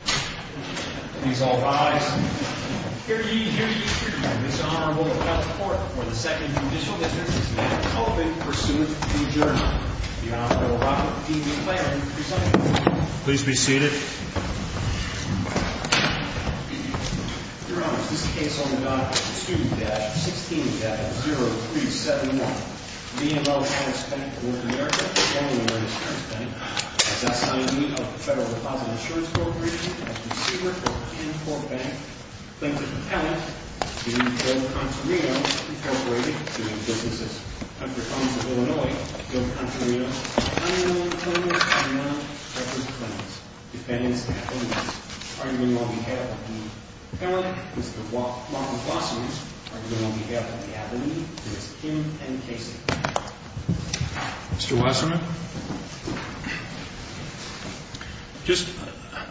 Please all rise. Hear ye, hear ye, hear ye. The Honorable Ralph Porter, for the second judicial dismissal, is now open. Pursuant to adjournment. The Honorable Robert D. McClain, presenting. Please be seated. Your Honors, this case on the dot is Student Debt 16-0371. BMO Harris Bank of North America, formerly known as Harris Bank, has assigned me, of the Federal Deposit Insurance Corporation, as receiver for Kenport Bank. Plaintiff Appellant, to Joe Contarino, Incorporated, doing businesses. Hunter Collins of Illinois, Joe Contarino. Honorable Appellant, I now present the defendants. Defendants, appellants. Arguing on behalf of the appellant, Mr. Marcus Wasserman. Arguing on behalf of the appellant, Mr. Tim N. Casey. Mr. Wasserman. Just,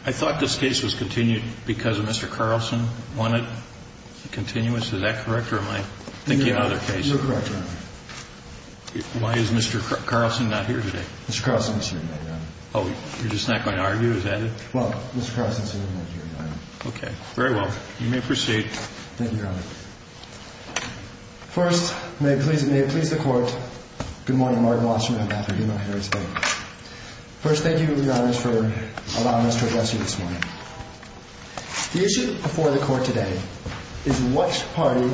I thought this case was continued because Mr. Carlson wanted it continuous. Is that correct, or am I thinking of another case? You're correct, Your Honor. Why is Mr. Carlson not here today? Mr. Carlson is here tonight, Your Honor. Oh, you're just not going to argue, is that it? Well, Mr. Carlson is here tonight. Okay, very well. You may proceed. Thank you, Your Honor. First, may it please the Court, good morning, Martin Wasserman, on behalf of BMO Harris Bank. First, thank you, Your Honor, for allowing us to address you this morning. The issue before the Court today is which party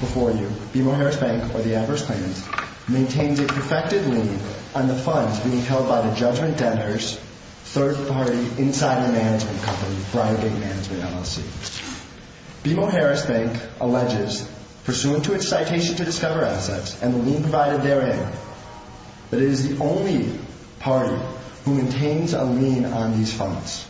before you, BMO Harris Bank or the adverse plaintiffs, maintains a perfected lien on the funds being held by the Judgment Debtors third-party insider management company, Briargate Management, LLC. BMO Harris Bank alleges, pursuant to its citation to discover assets and the lien provided therein, that it is the only party who maintains a lien on these funds.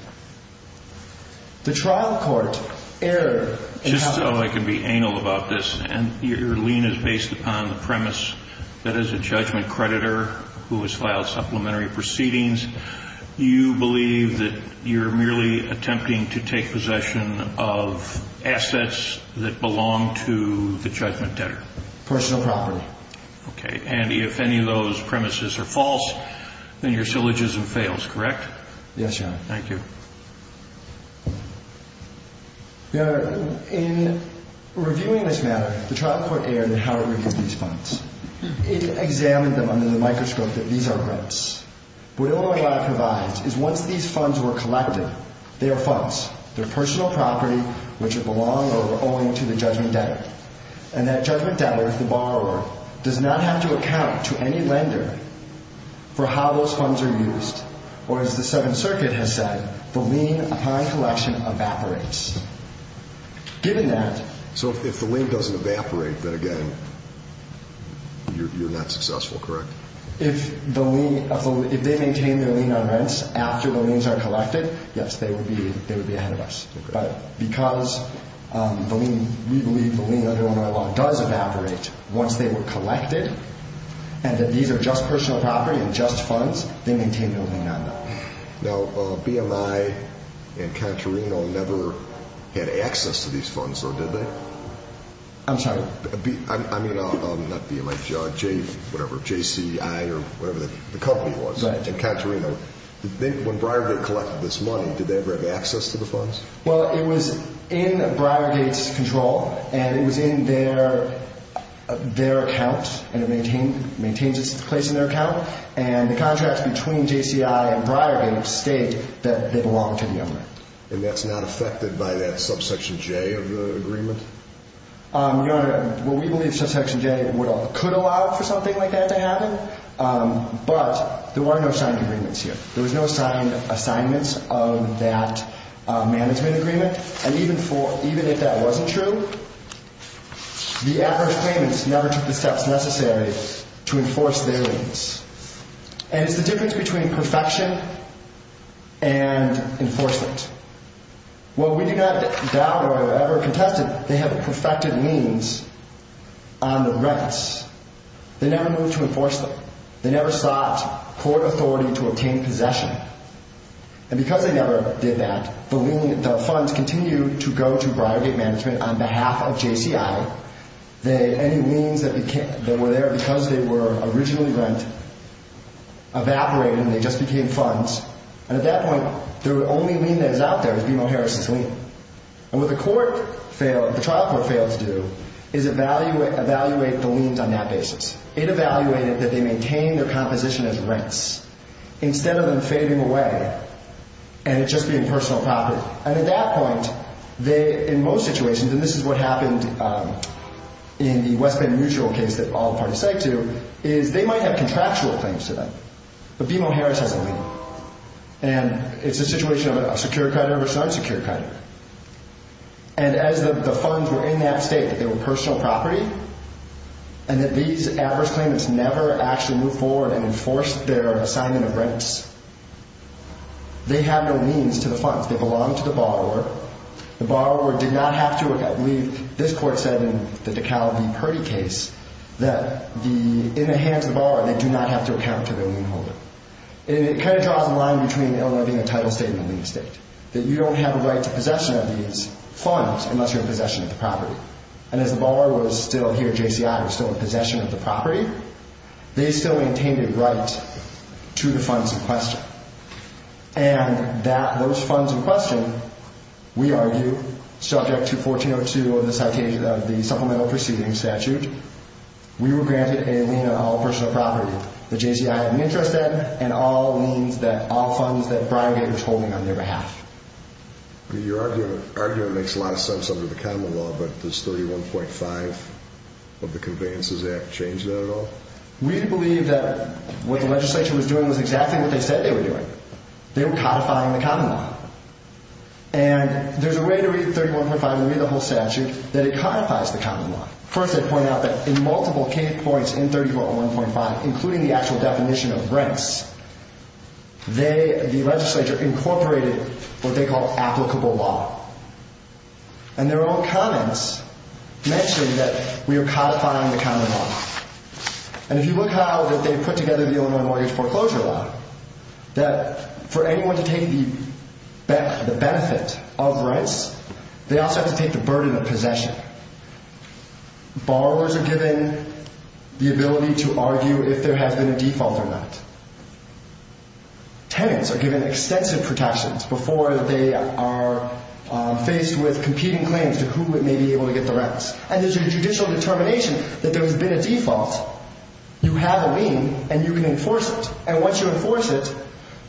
The trial court erred. Just so I can be anal about this, and your lien is based upon the premise that as a Judgment creditor who has filed supplementary proceedings, you believe that you're merely attempting to take possession of assets that belong to the Judgment Debtor. Personal property. Okay, Andy, if any of those premises are false, then your syllogism fails, correct? Yes, Your Honor. Thank you. Your Honor, in reviewing this matter, the trial court erred in how it reviews these funds. It examined them under the microscope that these are rents. What it only provides is once these funds were collected, they are funds. They're personal property which it belonged over owing to the Judgment Debtor. And that Judgment Debtor, the borrower, does not have to account to any lender for how those funds are used or as the Seventh Circuit has said, the lien upon collection evaporates. Given that... So if the lien doesn't evaporate, then again, you're not successful, correct? If they maintain their lien on rents after the liens are collected, yes, they would be ahead of us. But because we believe the lien under our law does evaporate once they were collected and that these are just personal property and just funds, they maintain their lien on them. Now, BMI and Contorino never had access to these funds, though, did they? I'm sorry? I mean, not BMI, whatever, JCI or whatever the company was, and Contorino. When Briargate collected this money, did they ever have access to the funds? Well, it was in Briargate's control and it was in their account and it maintains its place in their account. And the contracts between JCI and Briargate state that they belong to the owner. And that's not affected by that Subsection J of the agreement? Your Honor, well, we believe Subsection J could allow for something like that to happen. But there were no signed agreements here. There was no signed assignments of that management agreement. And even if that wasn't true, the adverse claimants never took the steps necessary to enforce their liens. And it's the difference between perfection and enforcement. Well, we do not doubt or ever contest it. They have perfected liens on the rents. They never moved to enforce them. They never sought court authority to obtain possession. And because they never did that, the funds continued to go to Briargate Management on behalf of JCI. Any liens that were there because they were originally rent evaporated and they just became funds. And at that point, the only lien that is out there is BMO Harris's lien. And what the trial court failed to do is evaluate the liens on that basis. It evaluated that they maintain their composition as rents instead of them fading away and it just being personal property. And at that point, in most situations, and this is what happened in the West Bend Mutual case that all parties sag to, is they might have contractual claims to them, but BMO Harris has a lien. And it's a situation of a secure creditor versus an unsecure creditor. And as the funds were in that state, that they were personal property, and that these adverse claimants never actually moved forward and enforced their assignment of rents, they have no liens to the funds. They belong to the borrower. The borrower did not have to, I believe this court said in the DeKalb v. Purdy case, that in the hands of the borrower, they do not have to account to their lien holder. And it kind of draws a line between Illinois being a title state and a lien state, that you don't have a right to possession of these funds unless you're in possession of the property. And as the borrower was still here at JCI, was still in possession of the property, they still maintained a right to the funds in question. And those funds in question, we argue, subject to 1402 of the supplemental proceedings statute, we were granted a lien on all personal property. The JCI had an interest in, and all funds that Brian gave was holding on their behalf. Your argument makes a lot of sense under the common law, but does 31.5 of the conveyances act change that at all? We believe that what the legislation was doing was exactly what they said they were doing. They were codifying the common law. And there's a way to read 31.5 and read the whole statute that it codifies the common law. First, they point out that in multiple case points in 34.1.5, including the actual definition of rents, they, the legislature, incorporated what they call applicable law. And their own comments mention that we are codifying the common law. And if you look how that they put together the Illinois Mortgage Foreclosure Law, that for anyone to take the benefit of rents, they also have to take the burden of possession. Borrowers are given the ability to argue if there has been a default or not. Tenants are given extensive protections before they are faced with competing claims to who may be able to get the rents. And there's a judicial determination that there has been a default. You have a lien, and you can enforce it. And once you enforce it,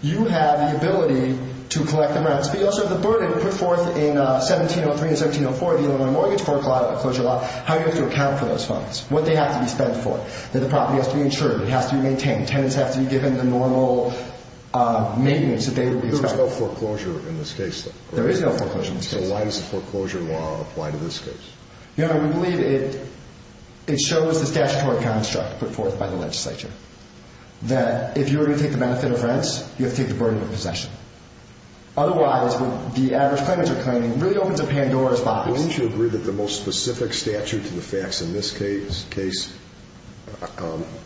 you have the ability to collect the rents. But you also have the burden put forth in 1703 and 1704, the Illinois Mortgage Foreclosure Law, how you have to account for those funds, what they have to be spent for, that the property has to be insured, it has to be maintained, tenants have to be given the normal maintenance that they would expect. There's no foreclosure in this case, though. There is no foreclosure in this case. So why does the foreclosure law apply to this case? You know, we believe it shows the statutory construct put forth by the legislature that if you were to take the benefit of rents, you have to take the burden of possession. Otherwise, what the average claimant is claiming really opens a Pandora's box. Wouldn't you agree that the most specific statute to the facts in this case is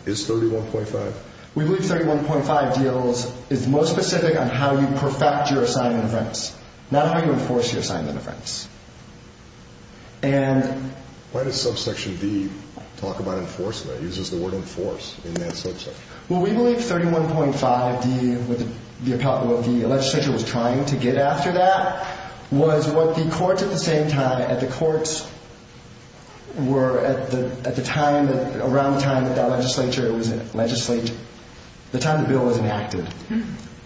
31.5? We believe 31.5 deals is most specific on how you perfect your assignment of rents, not how you enforce your assignment of rents. Why does subsection D talk about enforcement? It uses the word enforce in that subsection. Well, we believe 31.5, the legislature was trying to get after that, was what the courts at the same time, at the courts were at the time, around the time that that legislature was legislated, the time the bill was enacted,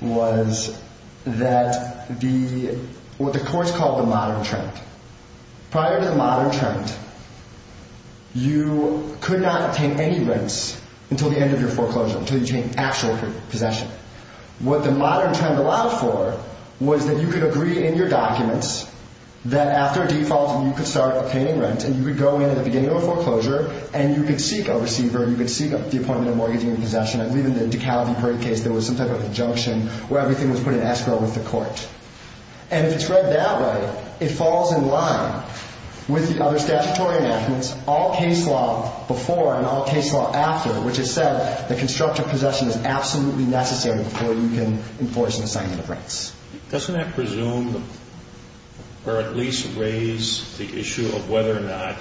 was that the, what the courts called the modern trend. Prior to the modern trend, you could not take any rents until the end of your foreclosure, until you take actual possession. What the modern trend allowed for was that you could agree in your documents that after default you could start obtaining rent and you could go in at the beginning of a foreclosure and you could seek a receiver, you could seek the appointment of mortgaging and possession. I believe in the Ducati break case there was some type of injunction where everything was put in escrow with the court. And if it's read that way, it falls in line with the other statutory enactments, all case law before and all case law after, which has said that constructive possession is absolutely necessary before you can enforce an assignment of rents. Doesn't that presume or at least raise the issue of whether or not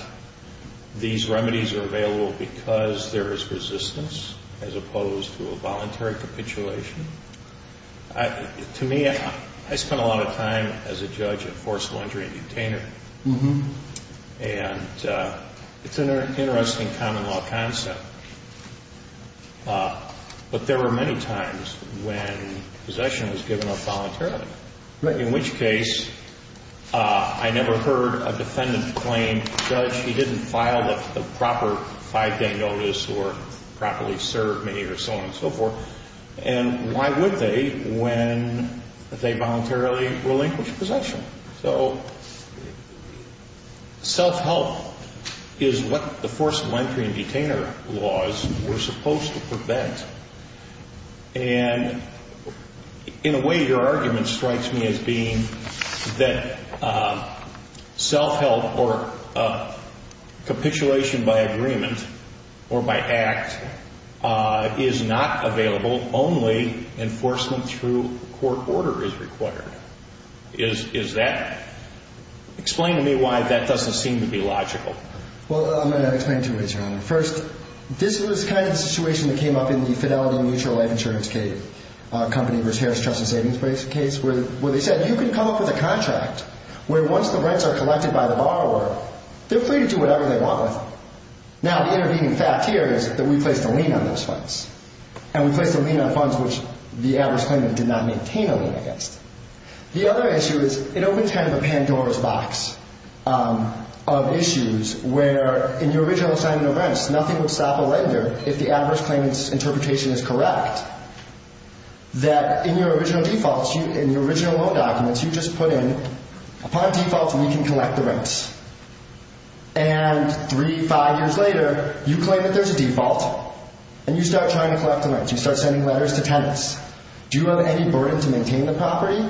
these remedies are available because there is resistance as opposed to a voluntary capitulation? To me, I spent a lot of time as a judge of forceful injury and detainer. And it's an interesting common law concept. But there were many times when possession was given up voluntarily, in which case I never heard a defendant claim, Judge, you didn't file a proper five-day notice or properly serve me or so on and so forth. And why would they when they voluntarily relinquished possession? So self-help is what the forceful injury and detainer laws were supposed to prevent. And in a way, your argument strikes me as being that self-help or capitulation by agreement or by act is not available. Only enforcement through court order is required. Is that – explain to me why that doesn't seem to be logical. Well, I'm going to explain two ways, Your Honor. First, this was kind of the situation that came up in the Fidelity Mutual Life Insurance Company versus Harris Trust and Savings case where they said, you can come up with a contract where once the rents are collected by the borrower, they're free to do whatever they want with them. Now, the intervening fact here is that we placed a lien on those funds. And we placed a lien on funds which the average claimant did not maintain a lien against. The other issue is it opens kind of a Pandora's box of issues where in your original signing of rents, nothing would stop a lender if the average claimant's interpretation is correct. That in your original defaults, in your original loan documents, you just put in, upon default, we can collect the rents. And three, five years later, you claim that there's a default, and you start trying to collect the rents. You start sending letters to tenants. Do you have any burden to maintain the property?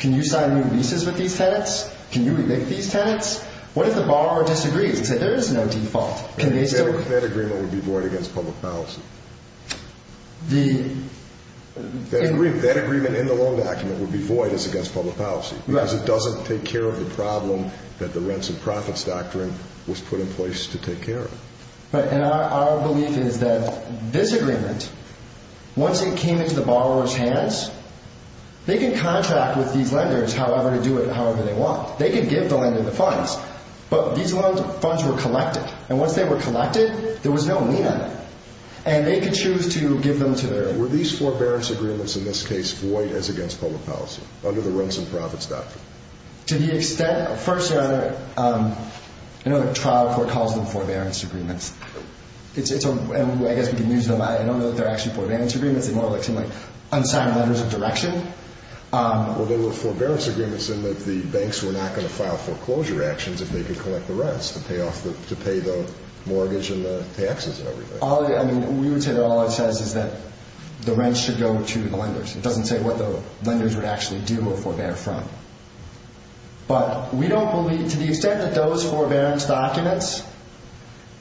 Can you sign new leases with these tenants? Can you evict these tenants? What if the borrower disagrees and says there is no default? That agreement would be void against public policy. That agreement in the loan document would be void as against public policy because it doesn't take care of the problem that the rents and profits doctrine was put in place to take care of. And our belief is that this agreement, once it came into the borrower's hands, they can contract with these lenders to do it however they want. They can give the lender the funds. But these funds were collected. And once they were collected, there was no lien on them. And they could choose to give them to the borrower. Were these forbearance agreements, in this case, void as against public policy under the rents and profits doctrine? To the extent, first, I know that trial court calls them forbearance agreements. I guess we can use them. I don't know that they're actually forbearance agreements. They're more like some unsigned letters of direction. Well, they were forbearance agreements in that the banks were not going to file foreclosure actions if they could collect the rents to pay the mortgage and the taxes and everything. We would say that all it says is that the rents should go to the lenders. It doesn't say what the lenders would actually do or forbear from. But we don't believe, to the extent that those forbearance documents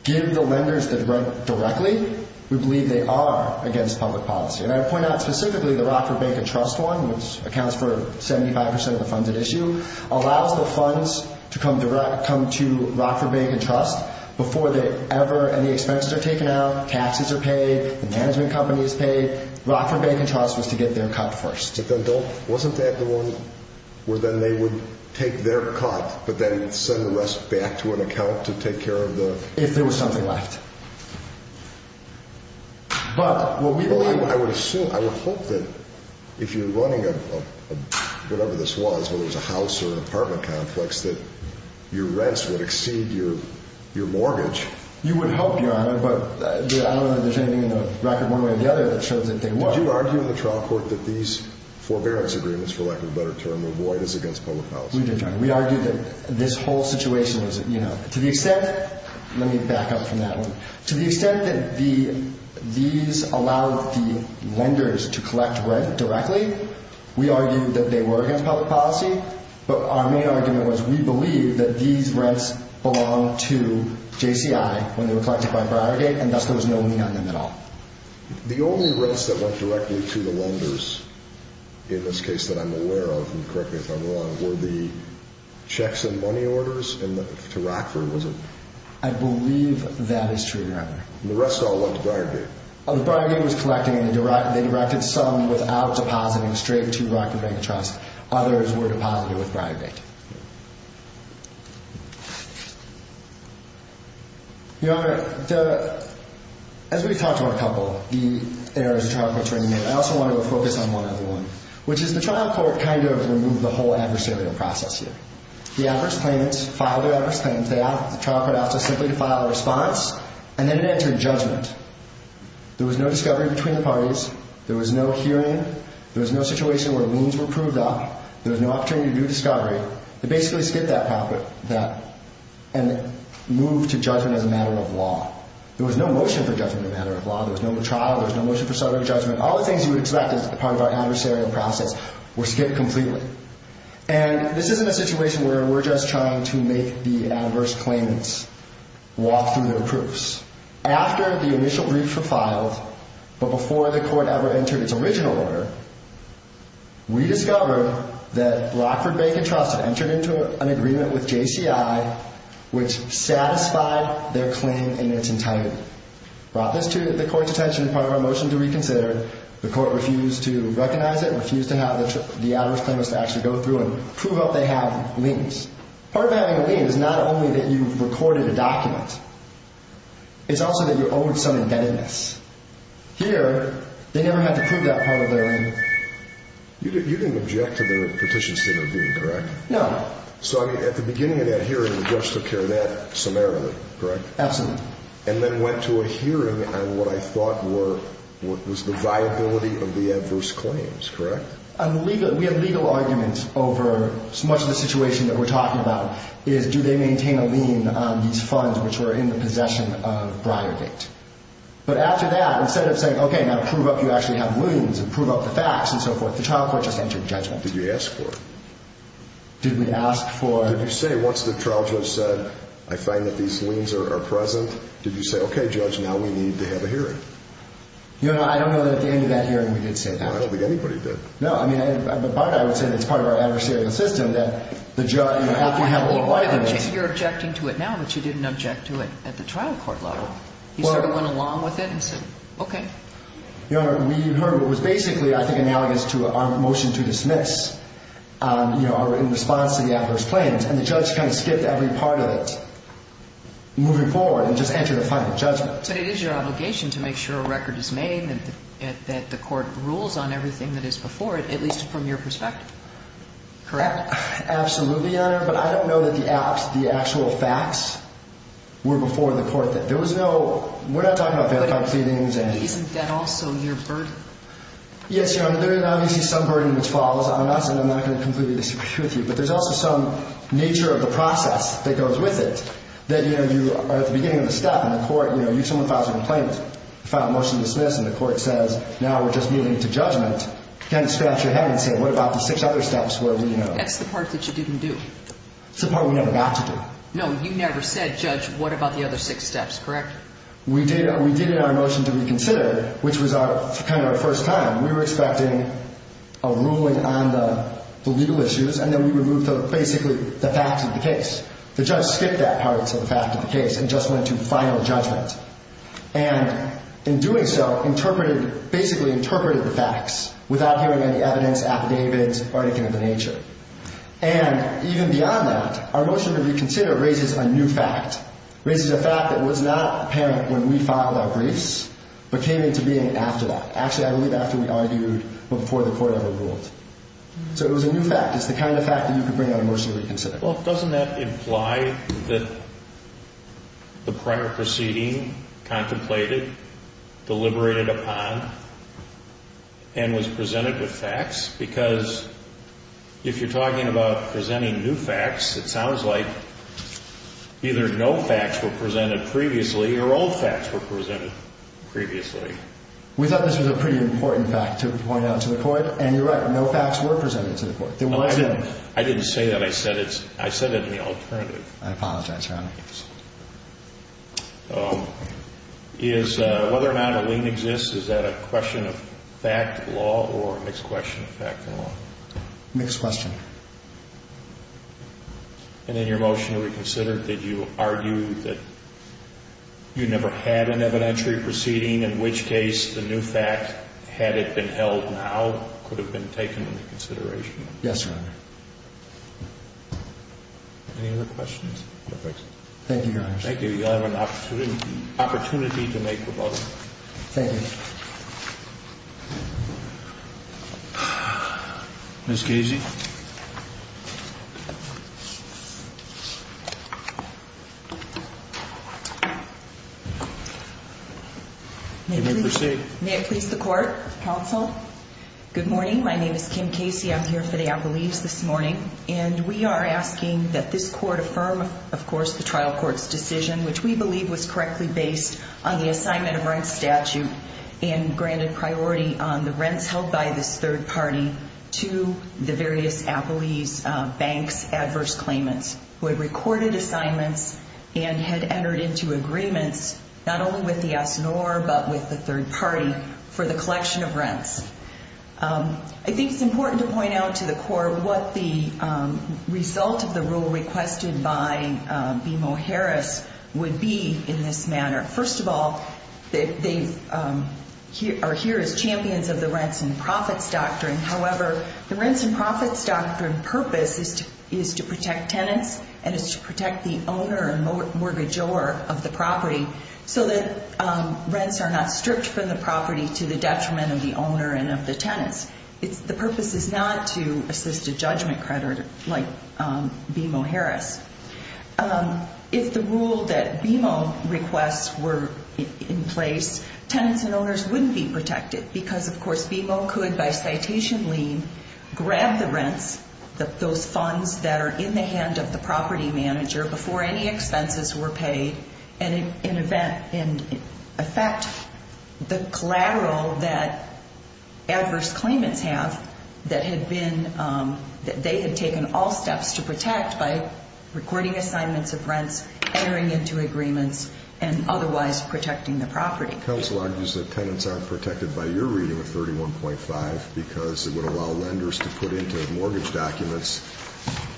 give the lenders the right directly, we believe they are against public policy. And I point out specifically the Rockford Bank and Trust one, which accounts for 75% of the funds at issue, allows the funds to come to Rockford Bank and Trust before ever any expenses are taken out, taxes are paid, the management company is paid. Rockford Bank and Trust was to get their cut first. But then wasn't that the one where then they would take their cut but then send the rest back to an account to take care of the? If there was something left. I would hope that if you're running a, whatever this was, whether it was a house or an apartment complex, that your rents would exceed your mortgage. You would hope, Your Honor, but I don't know that there's anything in the record one way or the other that shows that they would. Did you argue in the trial court that these forbearance agreements, for lack of a better term, were void as against public policy? We did, Your Honor. We argued that this whole situation was, you know. To the extent, let me back up from that one. To the extent that these allowed the lenders to collect rent directly, we argued that they were against public policy, but our main argument was we believe that these rents belonged to JCI when they were collected by Brodergate, and thus there was no lien on them at all. The only rents that went directly to the lenders, in this case that I'm aware of, and correct me if I'm wrong, were the checks and money orders to Rockford, was it? I believe that is true, Your Honor. The rest all went to Brodergate. Brodergate was collecting, and they directed some without depositing straight to Rockford Bank Trust. Others were deposited with Brodergate. Your Honor, as we've talked about a couple of the areas of trial court training, I also want to focus on one other one, which is the trial court kind of removed the whole adversarial process here. The adverse claimants filed their adverse claims. The trial court asked us simply to file a response, and then it entered judgment. There was no discovery between the parties. There was no hearing. There was no situation where wounds were proved up. There was no opportunity to do discovery. They basically skipped that part and moved to judgment as a matter of law. There was no motion for judgment as a matter of law. There was no trial. There was no motion for settlement of judgment. All the things you would expect as part of our adversarial process were skipped completely. And this isn't a situation where we're just trying to make the adverse claimants walk through their proofs. After the initial briefs were filed, but before the court ever entered its original order, we discovered that Rockford Bank and Trust had entered into an agreement with JCI which satisfied their claim in its entirety. Brought this to the court's attention as part of our motion to reconsider. The court refused to recognize it, refused to have the adverse claimants to actually go through and prove up they had liens. Part of having a lien is not only that you recorded a document. It's also that you owed some indebtedness. Here, they never had to prove that part of their lien. You didn't object to the petition sitting review, correct? No. So at the beginning of that hearing, the judge took care of that summarily, correct? Absolutely. And then went to a hearing on what I thought was the viability of the adverse claims, correct? We had legal arguments over much of the situation that we're talking about is do they maintain a lien on these funds which were in the possession of Briargate? But after that, instead of saying, okay, now prove up you actually have liens and prove up the facts and so forth, the trial court just entered judgment. Did you ask for it? Did we ask for it? Did you say once the trial judge said, I find that these liens are present, did you say, okay, judge, now we need to have a hearing? I don't know that at the end of that hearing we did say that. I don't think anybody did. No. But I would say that it's part of our adversarial system that the judge, after you have legal arguments. You're objecting to it now, but you didn't object to it at the trial court level. You sort of went along with it and said, okay. We heard what was basically, I think, analogous to our motion to dismiss in response to the affidavit's claims, and the judge kind of skipped every part of it moving forward and just entered a final judgment. But it is your obligation to make sure a record is made and that the court rules on everything that is before it, at least from your perspective, correct? Absolutely, Your Honor, but I don't know that the actual facts were before the court. There was no, we're not talking about verified pleadings. Isn't that also your burden? Yes, Your Honor. There is obviously some burden which falls on us, and I'm not going to completely disagree with you, but there's also some nature of the process that goes with it that, you know, you are at the beginning of the step, and the court, you know, if someone files a complaint, file a motion to dismiss, and the court says, now we're just getting into judgment, you kind of scratch your head and say, what about the six other steps where we, you know. That's the part that you didn't do. It's the part we never got to do. No, you never said, Judge, what about the other six steps, correct? We did it in our motion to reconsider, which was kind of our first time. We were expecting a ruling on the legal issues, and then we would move to basically the facts of the case. The judge skipped that part, so the fact of the case, and just went to final judgment. And in doing so, interpreted, basically interpreted the facts without hearing any evidence, affidavits, or anything of the nature. And even beyond that, our motion to reconsider raises a new fact, raises a fact that was not apparent when we filed our briefs, but came into being after that. Actually, I believe after we argued before the court ever ruled. So it was a new fact. It's the kind of fact that you could bring on a motion to reconsider. Well, doesn't that imply that the prior proceeding contemplated, deliberated upon, and was presented with facts? Because if you're talking about presenting new facts, it sounds like either no facts were presented previously or all facts were presented previously. We thought this was a pretty important fact to point out to the court, and you're right. No facts were presented to the court. I didn't say that. I apologize, Your Honor. Is whether or not a lien exists, is that a question of fact, law, or a mixed question of fact and law? Mixed question. And in your motion to reconsider, did you argue that you never had an evidentiary proceeding, in which case the new fact, had it been held now, could have been taken into consideration? Yes, Your Honor. Any other questions? No, thanks. Thank you, Your Honor. Thank you. You'll have an opportunity to make a vote. Thank you. Ms. Casey? May it please the court, counsel, good morning. My name is Kim Casey. I'm here for the appellees this morning, and we are asking that this court affirm, of course, the trial court's decision, which we believe was correctly based on the assignment of rent statute and granted priority on the rents held by this third party to the various appellees, banks, adverse claimants, who had recorded assignments and had entered into agreements, not only with the S&R, but with the third party, for the collection of rents. I think it's important to point out to the court what the result of the rule requested by BMO Harris would be in this manner. First of all, they are here as champions of the rents and profits doctrine. However, the rents and profits doctrine purpose is to protect tenants and is to protect the owner and mortgagor of the property so that rents are not stripped from the property to the detriment of the owner and of the tenants. The purpose is not to assist a judgment creditor like BMO Harris. If the rule that BMO requests were in place, tenants and owners wouldn't be protected because, of course, BMO could, by citation lien, grab the rents, those funds that are in the hand of the property manager before any expenses were paid and affect the collateral that adverse claimants have, that they had taken all steps to protect by recording assignments of rents, entering into agreements, and otherwise protecting the property. Counsel argues that tenants aren't protected by your reading of 31.5 because it would allow lenders to put into mortgage documents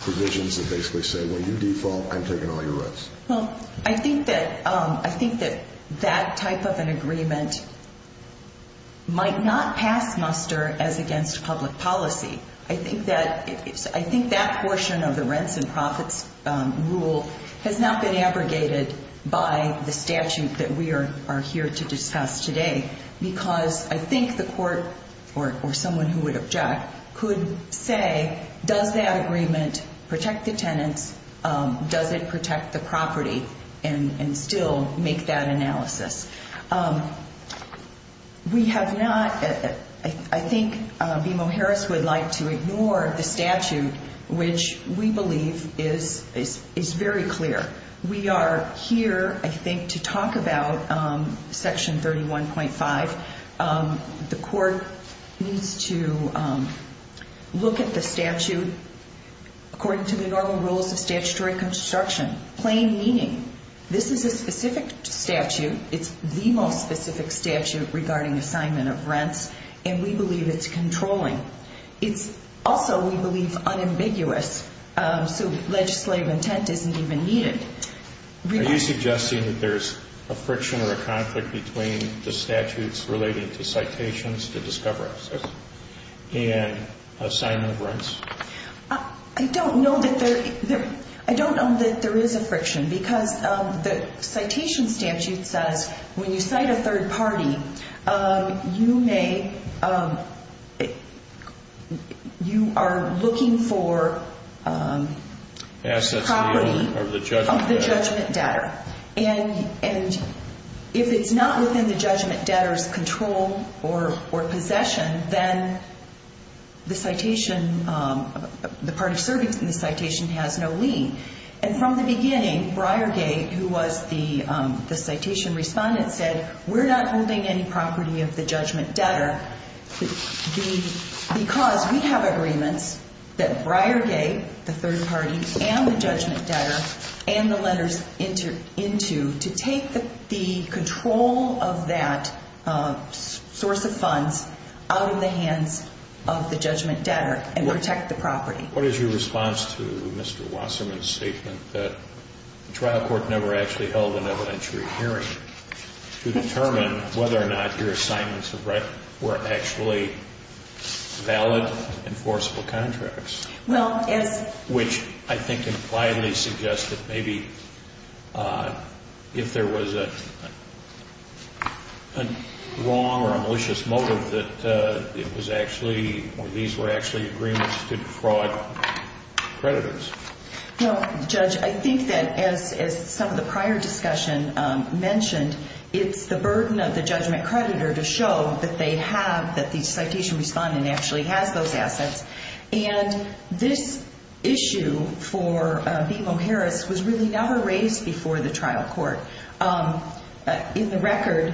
provisions that basically say, when you default, I'm taking all your rents. Well, I think that that type of an agreement might not pass muster as against public policy. I think that portion of the rents and profits rule has not been abrogated by the statute that we are here to discuss today because I think the court, or someone who would object, could say, does that agreement protect the tenants, does it protect the property, and still make that analysis. We have not, I think BMO Harris would like to ignore the statute, which we believe is very clear. We are here, I think, to talk about Section 31.5. The court needs to look at the statute according to the normal rules of statutory construction, plain meaning. This is a specific statute. It's the most specific statute regarding assignment of rents, and we believe it's controlling. It's also, we believe, unambiguous, so legislative intent isn't even needed. Are you suggesting that there's a friction or a conflict between the statutes relating to citations, to discoverances, and assignment of rents? I don't know that there is a friction because the citation statute says, when you cite a third party, you may, you are looking for property of the judgment debtor. And if it's not within the judgment debtor's control or possession, then the citation, the party serving in the citation has no lien. And from the beginning, Briargate, who was the citation respondent, said, we're not holding any property of the judgment debtor because we have agreements that Briargate, the third party, and the judgment debtor, and the lenders enter into, to take the control of that source of funds out of the hands of the judgment debtor and protect the property. What is your response to Mr. Wasserman's statement that the trial court never actually held an evidentiary hearing to determine whether or not your assignments of rent were actually valid, enforceable contracts? Well, as... Which I think impliedly suggests that maybe if there was a wrong or a malicious motive that it was actually, or these were actually agreements to defraud creditors. Well, Judge, I think that as some of the prior discussion mentioned, it's the burden of the judgment creditor to show that they have, that the citation respondent actually has those assets. And this issue for BMO Harris was really never raised before the trial court. In the record,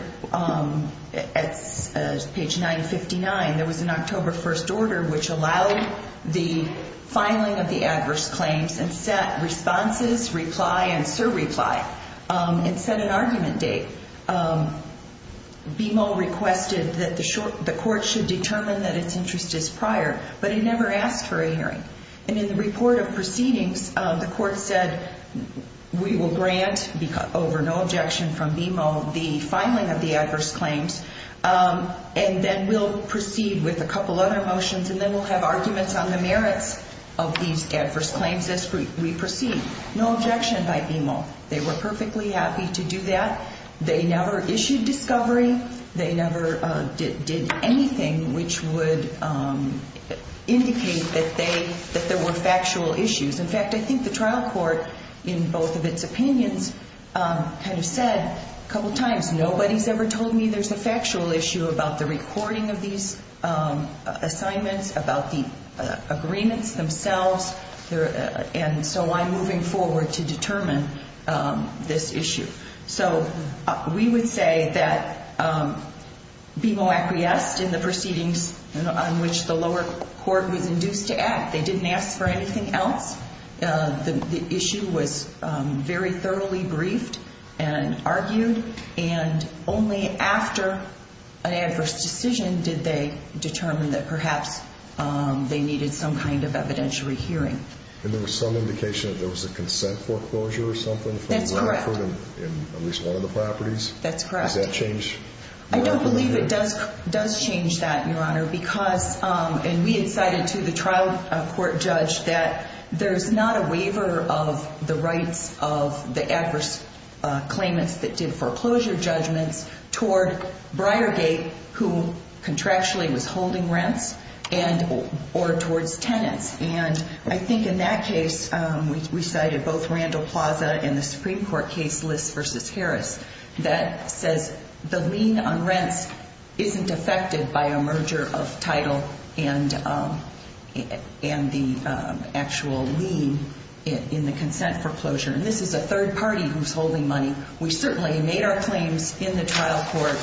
at page 959, there was an October 1st order which allowed the filing of the adverse claims and set responses, reply, and surreply, and set an argument date. BMO requested that the court should determine that its interest is prior, but it never asked for a hearing. And in the report of proceedings, the court said, we will grant over no objection from BMO the filing of the adverse claims, and then we'll proceed with a couple other motions, and then we'll have arguments on the merits of these adverse claims as we proceed. No objection by BMO. They were perfectly happy to do that. They never issued discovery. They never did anything which would indicate that there were factual issues. In fact, I think the trial court, in both of its opinions, kind of said a couple times, nobody's ever told me there's a factual issue about the recording of these assignments, about the agreements themselves, and so I'm moving forward to determine this issue. So we would say that BMO acquiesced in the proceedings on which the lower court was induced to act. They didn't ask for anything else. The issue was very thoroughly briefed and argued, and only after an adverse decision did they determine that perhaps they needed some kind of evidentiary hearing. And there was some indication that there was a consent foreclosure or something? That's correct. In at least one of the properties? That's correct. Does that change? I don't believe it does change that, Your Honor, because, and we had cited to the trial court judge that there's not a waiver of the rights of the adverse claimants that did foreclosure judgments toward Briargate, who contractually was holding rents, or towards tenants. And I think in that case, we cited both Randall Plaza and the Supreme Court case, List v. Harris, that says the lien on rents isn't affected by a merger of title and the actual lien in the consent foreclosure. And this is a third party who's holding money. We certainly made our claims in the trial court,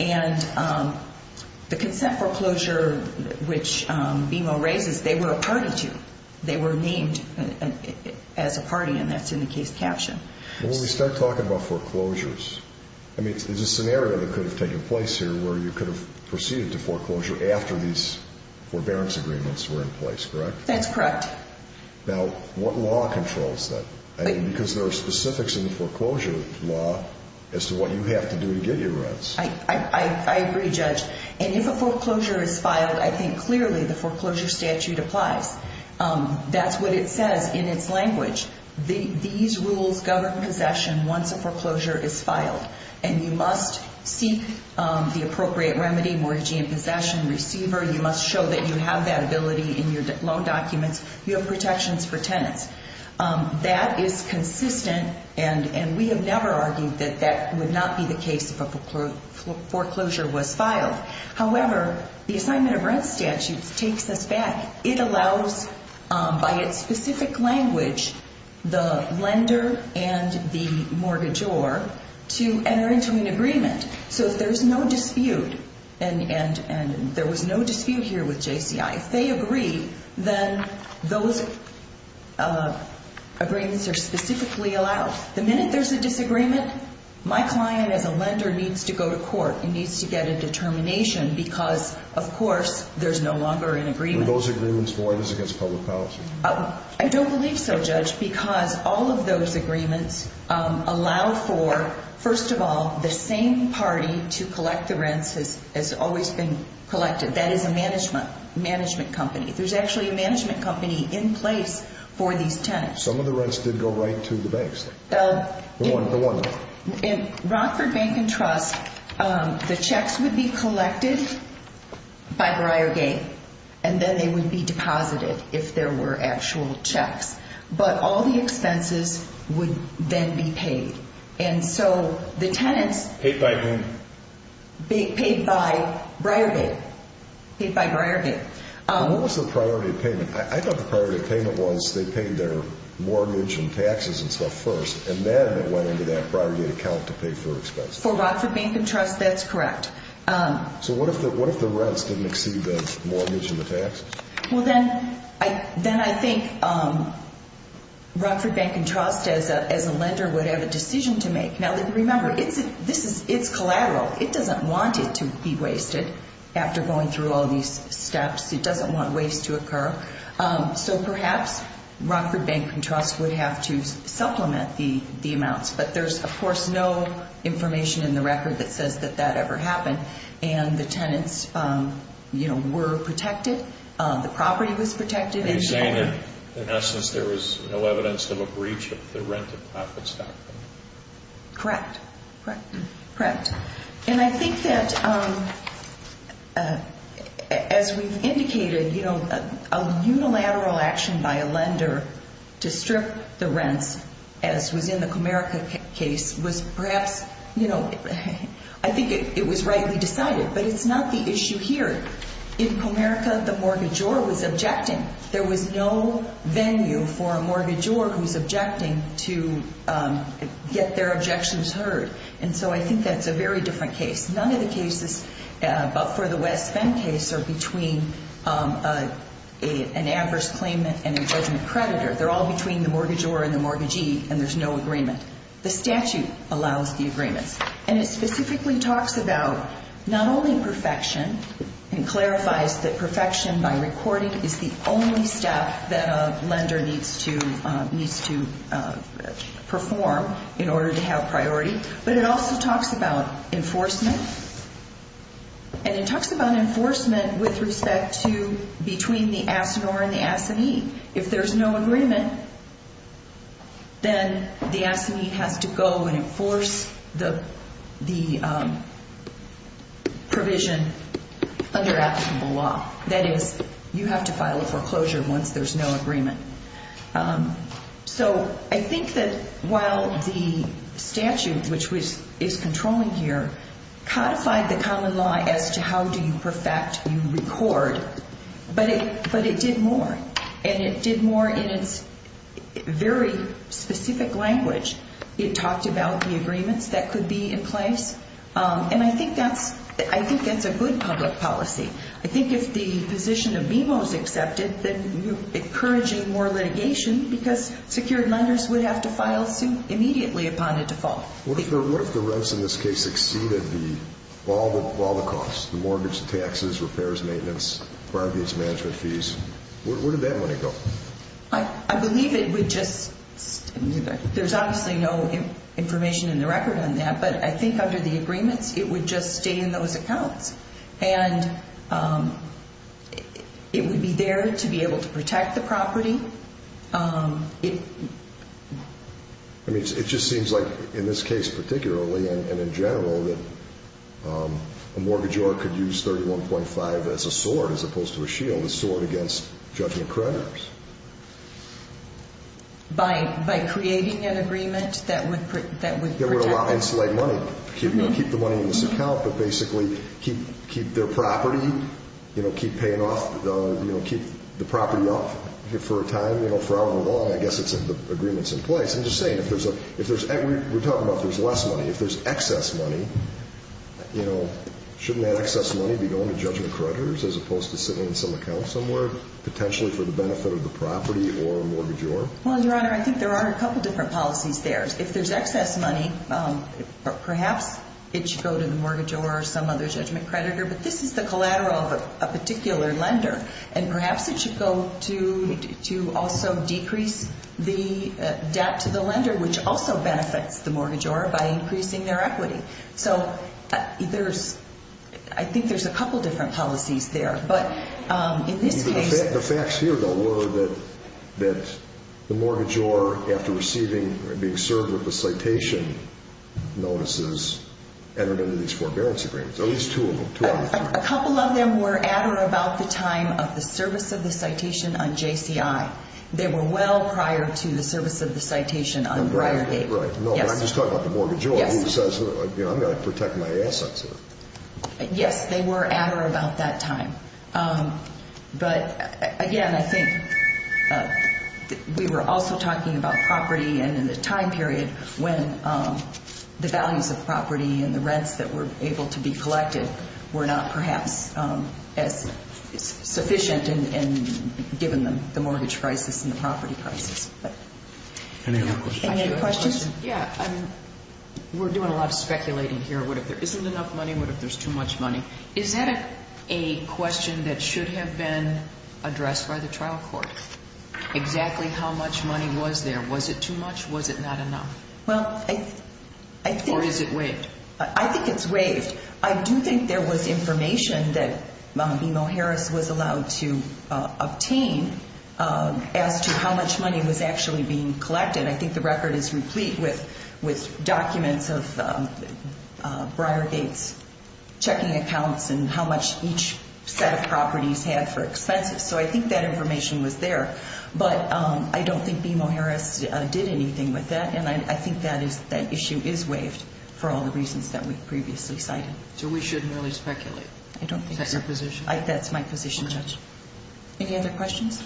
and the consent foreclosure, which BMO raises, they were a party to. They were named as a party, and that's in the case caption. When we start talking about foreclosures, I mean, there's a scenario that could have taken place here where you could have proceeded to foreclosure after these forbearance agreements were in place, correct? That's correct. Now, what law controls that? Because there are specifics in the foreclosure law as to what you have to do to get your rents. I agree, Judge. And if a foreclosure is filed, I think clearly the foreclosure statute applies. That's what it says in its language. These rules govern possession once a foreclosure is filed, and you must seek the appropriate remedy, mortgagee in possession, receiver. You must show that you have that ability in your loan documents. You have protections for tenants. That is consistent, and we have never argued that that would not be the case if a foreclosure was filed. However, the assignment of rent statutes takes us back. It allows, by its specific language, the lender and the mortgagor to enter into an agreement. So if there's no dispute, and there was no dispute here with JCI, if they agree, then those agreements are specifically allowed. The minute there's a disagreement, my client as a lender needs to go to court. He needs to get a determination because, of course, there's no longer an agreement. Are those agreements void as against public policy? I don't believe so, Judge, because all of those agreements allow for, first of all, the same party to collect the rents as has always been collected. That is a management company. There's actually a management company in place for these tenants. Some of the rents did go right to the banks. The one. In Rockford Bank and Trust, the checks would be collected by Briargate, and then they would be deposited if there were actual checks. But all the expenses would then be paid. And so the tenants... Paid by whom? Paid by Briargate. What was the priority of payment? I thought the priority of payment was they paid their mortgage and taxes and stuff first, and then it went into that Briargate account to pay for their expenses. For Rockford Bank and Trust, that's correct. So what if the rents didn't exceed the mortgage and the taxes? Well, then I think Rockford Bank and Trust, as a lender, would have a decision to make. Now, remember, it's collateral. It doesn't want it to be wasted after going through all these steps. It doesn't want waste to occur. So perhaps Rockford Bank and Trust would have to supplement the amounts. But there's, of course, no information in the record that says that that ever happened. And the tenants were protected. The property was protected. Are you saying that, in essence, there was no evidence of a breach of the rent of profits doctrine? Correct. And I think that, as we've indicated, you know, a unilateral action by a lender to strip the rents, as was in the Comerica case, was perhaps, you know, I think it was rightly decided. But it's not the issue here. In Comerica, the mortgagor was objecting. There was no venue for a mortgagor who's objecting to get their objections heard. And so I think that's a very different case. None of the cases, but for the West Bend case, are between an adverse claimant and a judgment creditor. They're all between the mortgagor and the mortgagee, and there's no agreement. The statute allows the agreements. And it specifically talks about not only perfection and clarifies that perfection by recording is the only step that a lender needs to perform in order to have priority, but it also talks about enforcement. And it talks about enforcement with respect to between the assignor and the assignee. If there's no agreement, then the assignee has to go and enforce the provision under applicable law. That is, you have to file a foreclosure once there's no agreement. So I think that while the statute, which is controlling here, codified the common law as to how do you perfect, you record, but it did more, and it did more in its very specific language. It talked about the agreements that could be in place, and I think that's a good public policy. I think if the position of BMO is accepted, then you're encouraging more litigation because secured lenders would have to file suit immediately upon a default. What if the rents in this case exceeded all the costs, the mortgage, taxes, repairs, maintenance, private use management fees? Where would that money go? I believe it would just stay there. There's obviously no information in the record on that, but I think under the agreements, it would just stay in those accounts, and it would be there to be able to protect the property. It just seems like in this case particularly and in general that a mortgagor could use 31.5 as a sword as opposed to a shield, a sword against judgment creditors. By creating an agreement that would protect. That would allow them to keep the money in this account, but basically keep their property, keep the property up for a time, for however long I guess the agreement's in place. I'm just saying, we're talking about if there's less money. If there's excess money, shouldn't that excess money be going to judgment creditors as opposed to sitting in some account somewhere potentially for the benefit of the property or a mortgagor? Well, Your Honor, I think there are a couple different policies there. If there's excess money, perhaps it should go to the mortgagor or some other judgment creditor, but this is the collateral of a particular lender, and perhaps it should go to also decrease the debt to the lender, which also benefits the mortgagor by increasing their equity. So I think there's a couple different policies there, but in this case. The facts here, though, were that the mortgagor, after receiving or being served with the citation notices, entered into these forbearance agreements, at least two of them. A couple of them were at or about the time of the service of the citation on JCI. They were well prior to the service of the citation on Briargate. Right, right. No, I'm just talking about the mortgagor who says, I'm going to protect my assets here. Yes, they were at or about that time, but again, I think we were also talking about property and in the time period when the values of property and the rents that were able to be collected were not perhaps as sufficient given the mortgage crisis and the property crisis. Any other questions? Yeah, we're doing a lot of speculating here. What if there isn't enough money? What if there's too much money? Is that a question that should have been addressed by the trial court, exactly how much money was there? Was it too much? Was it not enough? Or is it waived? I think it's waived. I do think there was information that BMO Harris was allowed to obtain as to how much money was actually being collected. I think the record is replete with documents of Briargate's checking accounts and how much each set of properties had for expenses, so I think that information was there. But I don't think BMO Harris did anything with that, and I think that issue is waived for all the reasons that we previously cited. So we shouldn't really speculate? I don't think so. Is that your position? That's my position, Judge. Any other questions?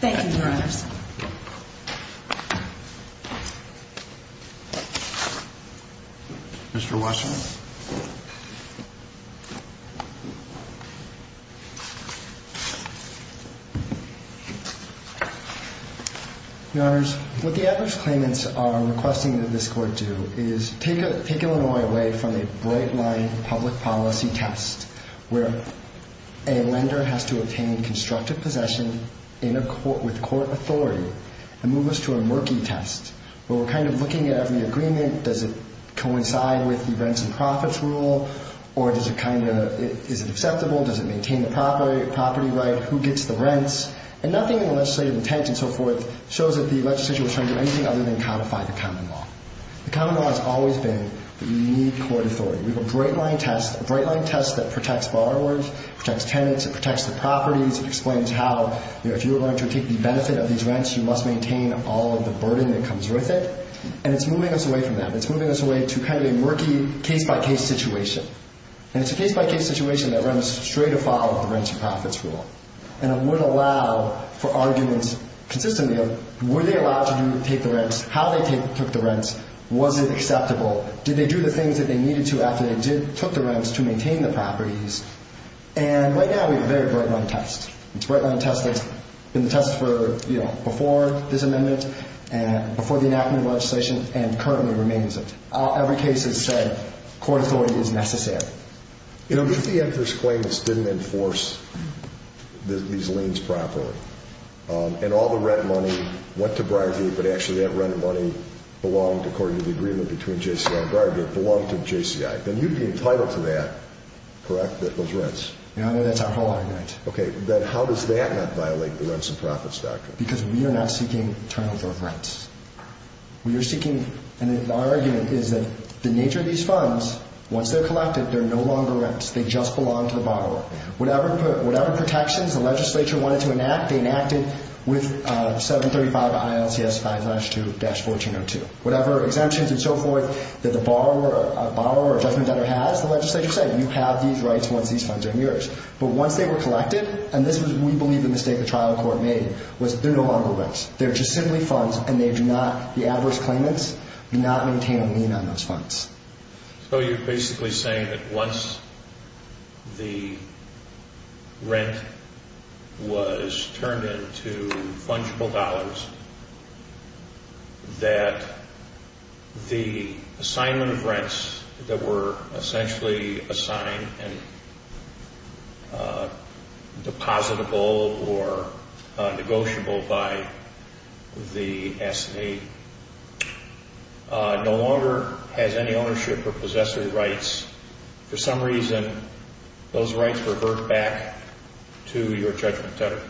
Thank you, Your Honors. Mr. Wasserman. Your Honors, what the adverse claimants are requesting that this Court do is take Illinois away from a bright-line public policy test where a lender has to obtain constructive possession with court authority and move us to a murky test where we're kind of looking at every agreement. Does it coincide with the rents and profits rule, or is it acceptable? Does it maintain the property right? Who gets the rents? And nothing in the legislative intent and so forth shows that the legislature was trying to do anything other than codify the common law. The common law has always been that we need court authority. We have a bright-line test, a bright-line test that protects borrowers, protects tenants, it protects the properties, it explains how if you're going to take the benefit of these rents, you must maintain all of the burden that comes with it. And it's moving us away from that. It's moving us away to kind of a murky case-by-case situation. And it's a case-by-case situation that runs straight afoul of the rents and profits rule. And it wouldn't allow for arguments consistently of were they allowed to take the rents, how they took the rents, was it acceptable, did they do the things that they needed to after they took the rents to maintain the properties. And right now we have a very bright-line test. It's a bright-line test that's been the test for, you know, before this amendment and before the enactment of legislation and currently remains it. Every case has said court authority is necessary. You know, if the employer's claims didn't enforce these liens properly and all the rent money went to bribery but actually that rent money belonged, according to the agreement between JCI and bribery, it belonged to JCI, then you'd be entitled to that, correct, those rents? Yeah, that's our whole argument. Okay, then how does that not violate the rents and profits doctrine? Because we are not seeking turnover of rents. We are seeking, and our argument is that the nature of these funds, once they're collected, they're no longer rents. They just belong to the borrower. Whatever protections the legislature wanted to enact, they enacteded with 735 ILCS 5-2-1402. Whatever exemptions and so forth that the borrower or judgment debtor has, the legislature said, you have these rights once these funds are in yours. But once they were collected, and this was, we believe, the mistake the trial court made, was they're no longer rents. They're just simply funds, and they do not, the adverse claimants do not maintain a lien on those funds. So you're basically saying that once the rent was turned into fungible dollars, that the assignment of rents that were essentially assigned and depositable or negotiable by the S&A no longer has any ownership or possessory rights. For some reason, those rights revert back to your judgment debtor.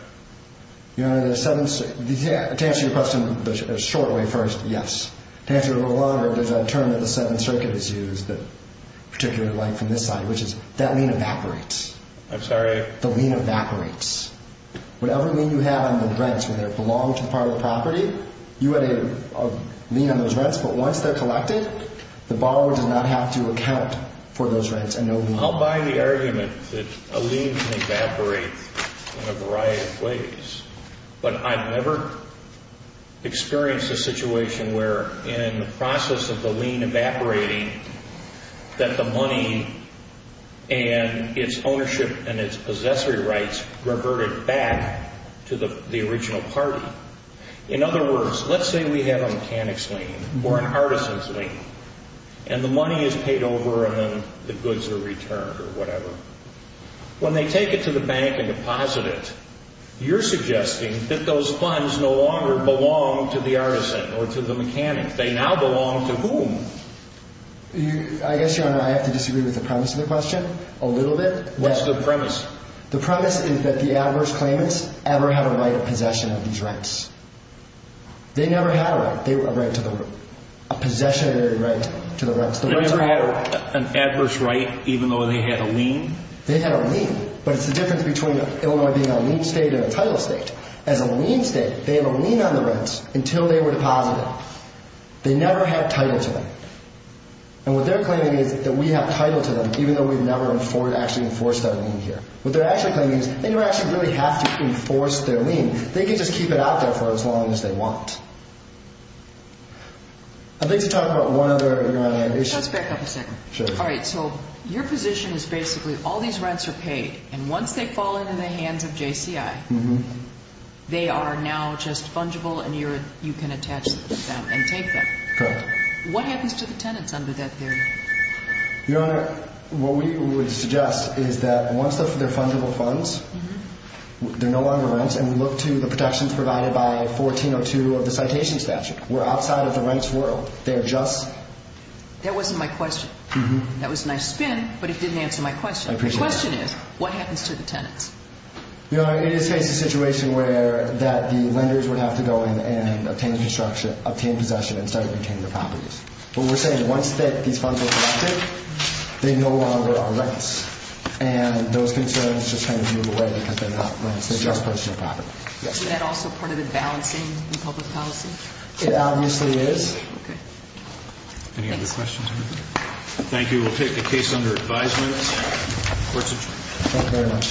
Your Honor, to answer your question the short way first, yes. To answer it a little longer, there's a term that the Seventh Circuit has used, particularly from this side, which is, that lien evaporates. I'm sorry? The lien evaporates. Whatever lien you have on the rents, whether it belonged to the part of the property, you had a lien on those rents, but once they're collected, the borrower does not have to account for those rents and no lien. I'll buy the argument that a lien can evaporate in a variety of ways, but I've never experienced a situation where, in the process of the lien evaporating, that the money and its ownership and its possessory rights reverted back to the original party. In other words, let's say we have a mechanic's lien or an artisan's lien, and the money is paid over and then the goods are returned or whatever. When they take it to the bank and deposit it, you're suggesting that those funds no longer belong to the artisan or to the mechanic. They now belong to whom? I guess, Your Honor, I have to disagree with the premise of the question a little bit. What's the premise? The premise is that the adverse claimants ever had a right of possession of these rents. They never had a right. A possessionary right to the rents. They never had an adverse right even though they had a lien? They had a lien, but it's the difference between a lien state and a title state. As a lien state, they have a lien on the rents until they were deposited. They never had title to them. And what they're claiming is that we have title to them even though we've never actually enforced our lien here. What they're actually claiming is they don't actually really have to enforce their lien. They can just keep it out there for as long as they want. I'd like to talk about one other, Your Honor. Just back up a second. Sure. All right, so your position is basically all these rents are paid, and once they fall into the hands of JCI, they are now just fungible and you can attach them and take them. Correct. What happens to the tenants under that theory? Your Honor, what we would suggest is that once they're fungible funds, they're no longer rents, and we look to the protections provided by 1402 of the citation statute. We're outside of the rents world. They're just... That wasn't my question. That was a nice spin, but it didn't answer my question. I appreciate it. The question is, what happens to the tenants? Your Honor, it is a situation where that the lenders would have to go in and obtain construction, obtain possession, and start retaining their properties. What we're saying is once these funds are collected, they no longer are rents, and those concerns just kind of move away because they're not rents. They're just purchasing property. Is that also part of the balancing in public policy? It obviously is. Okay. Any other questions? Thank you. We'll take a case under advisement. Court's adjourned. Thank you very much. Thank you.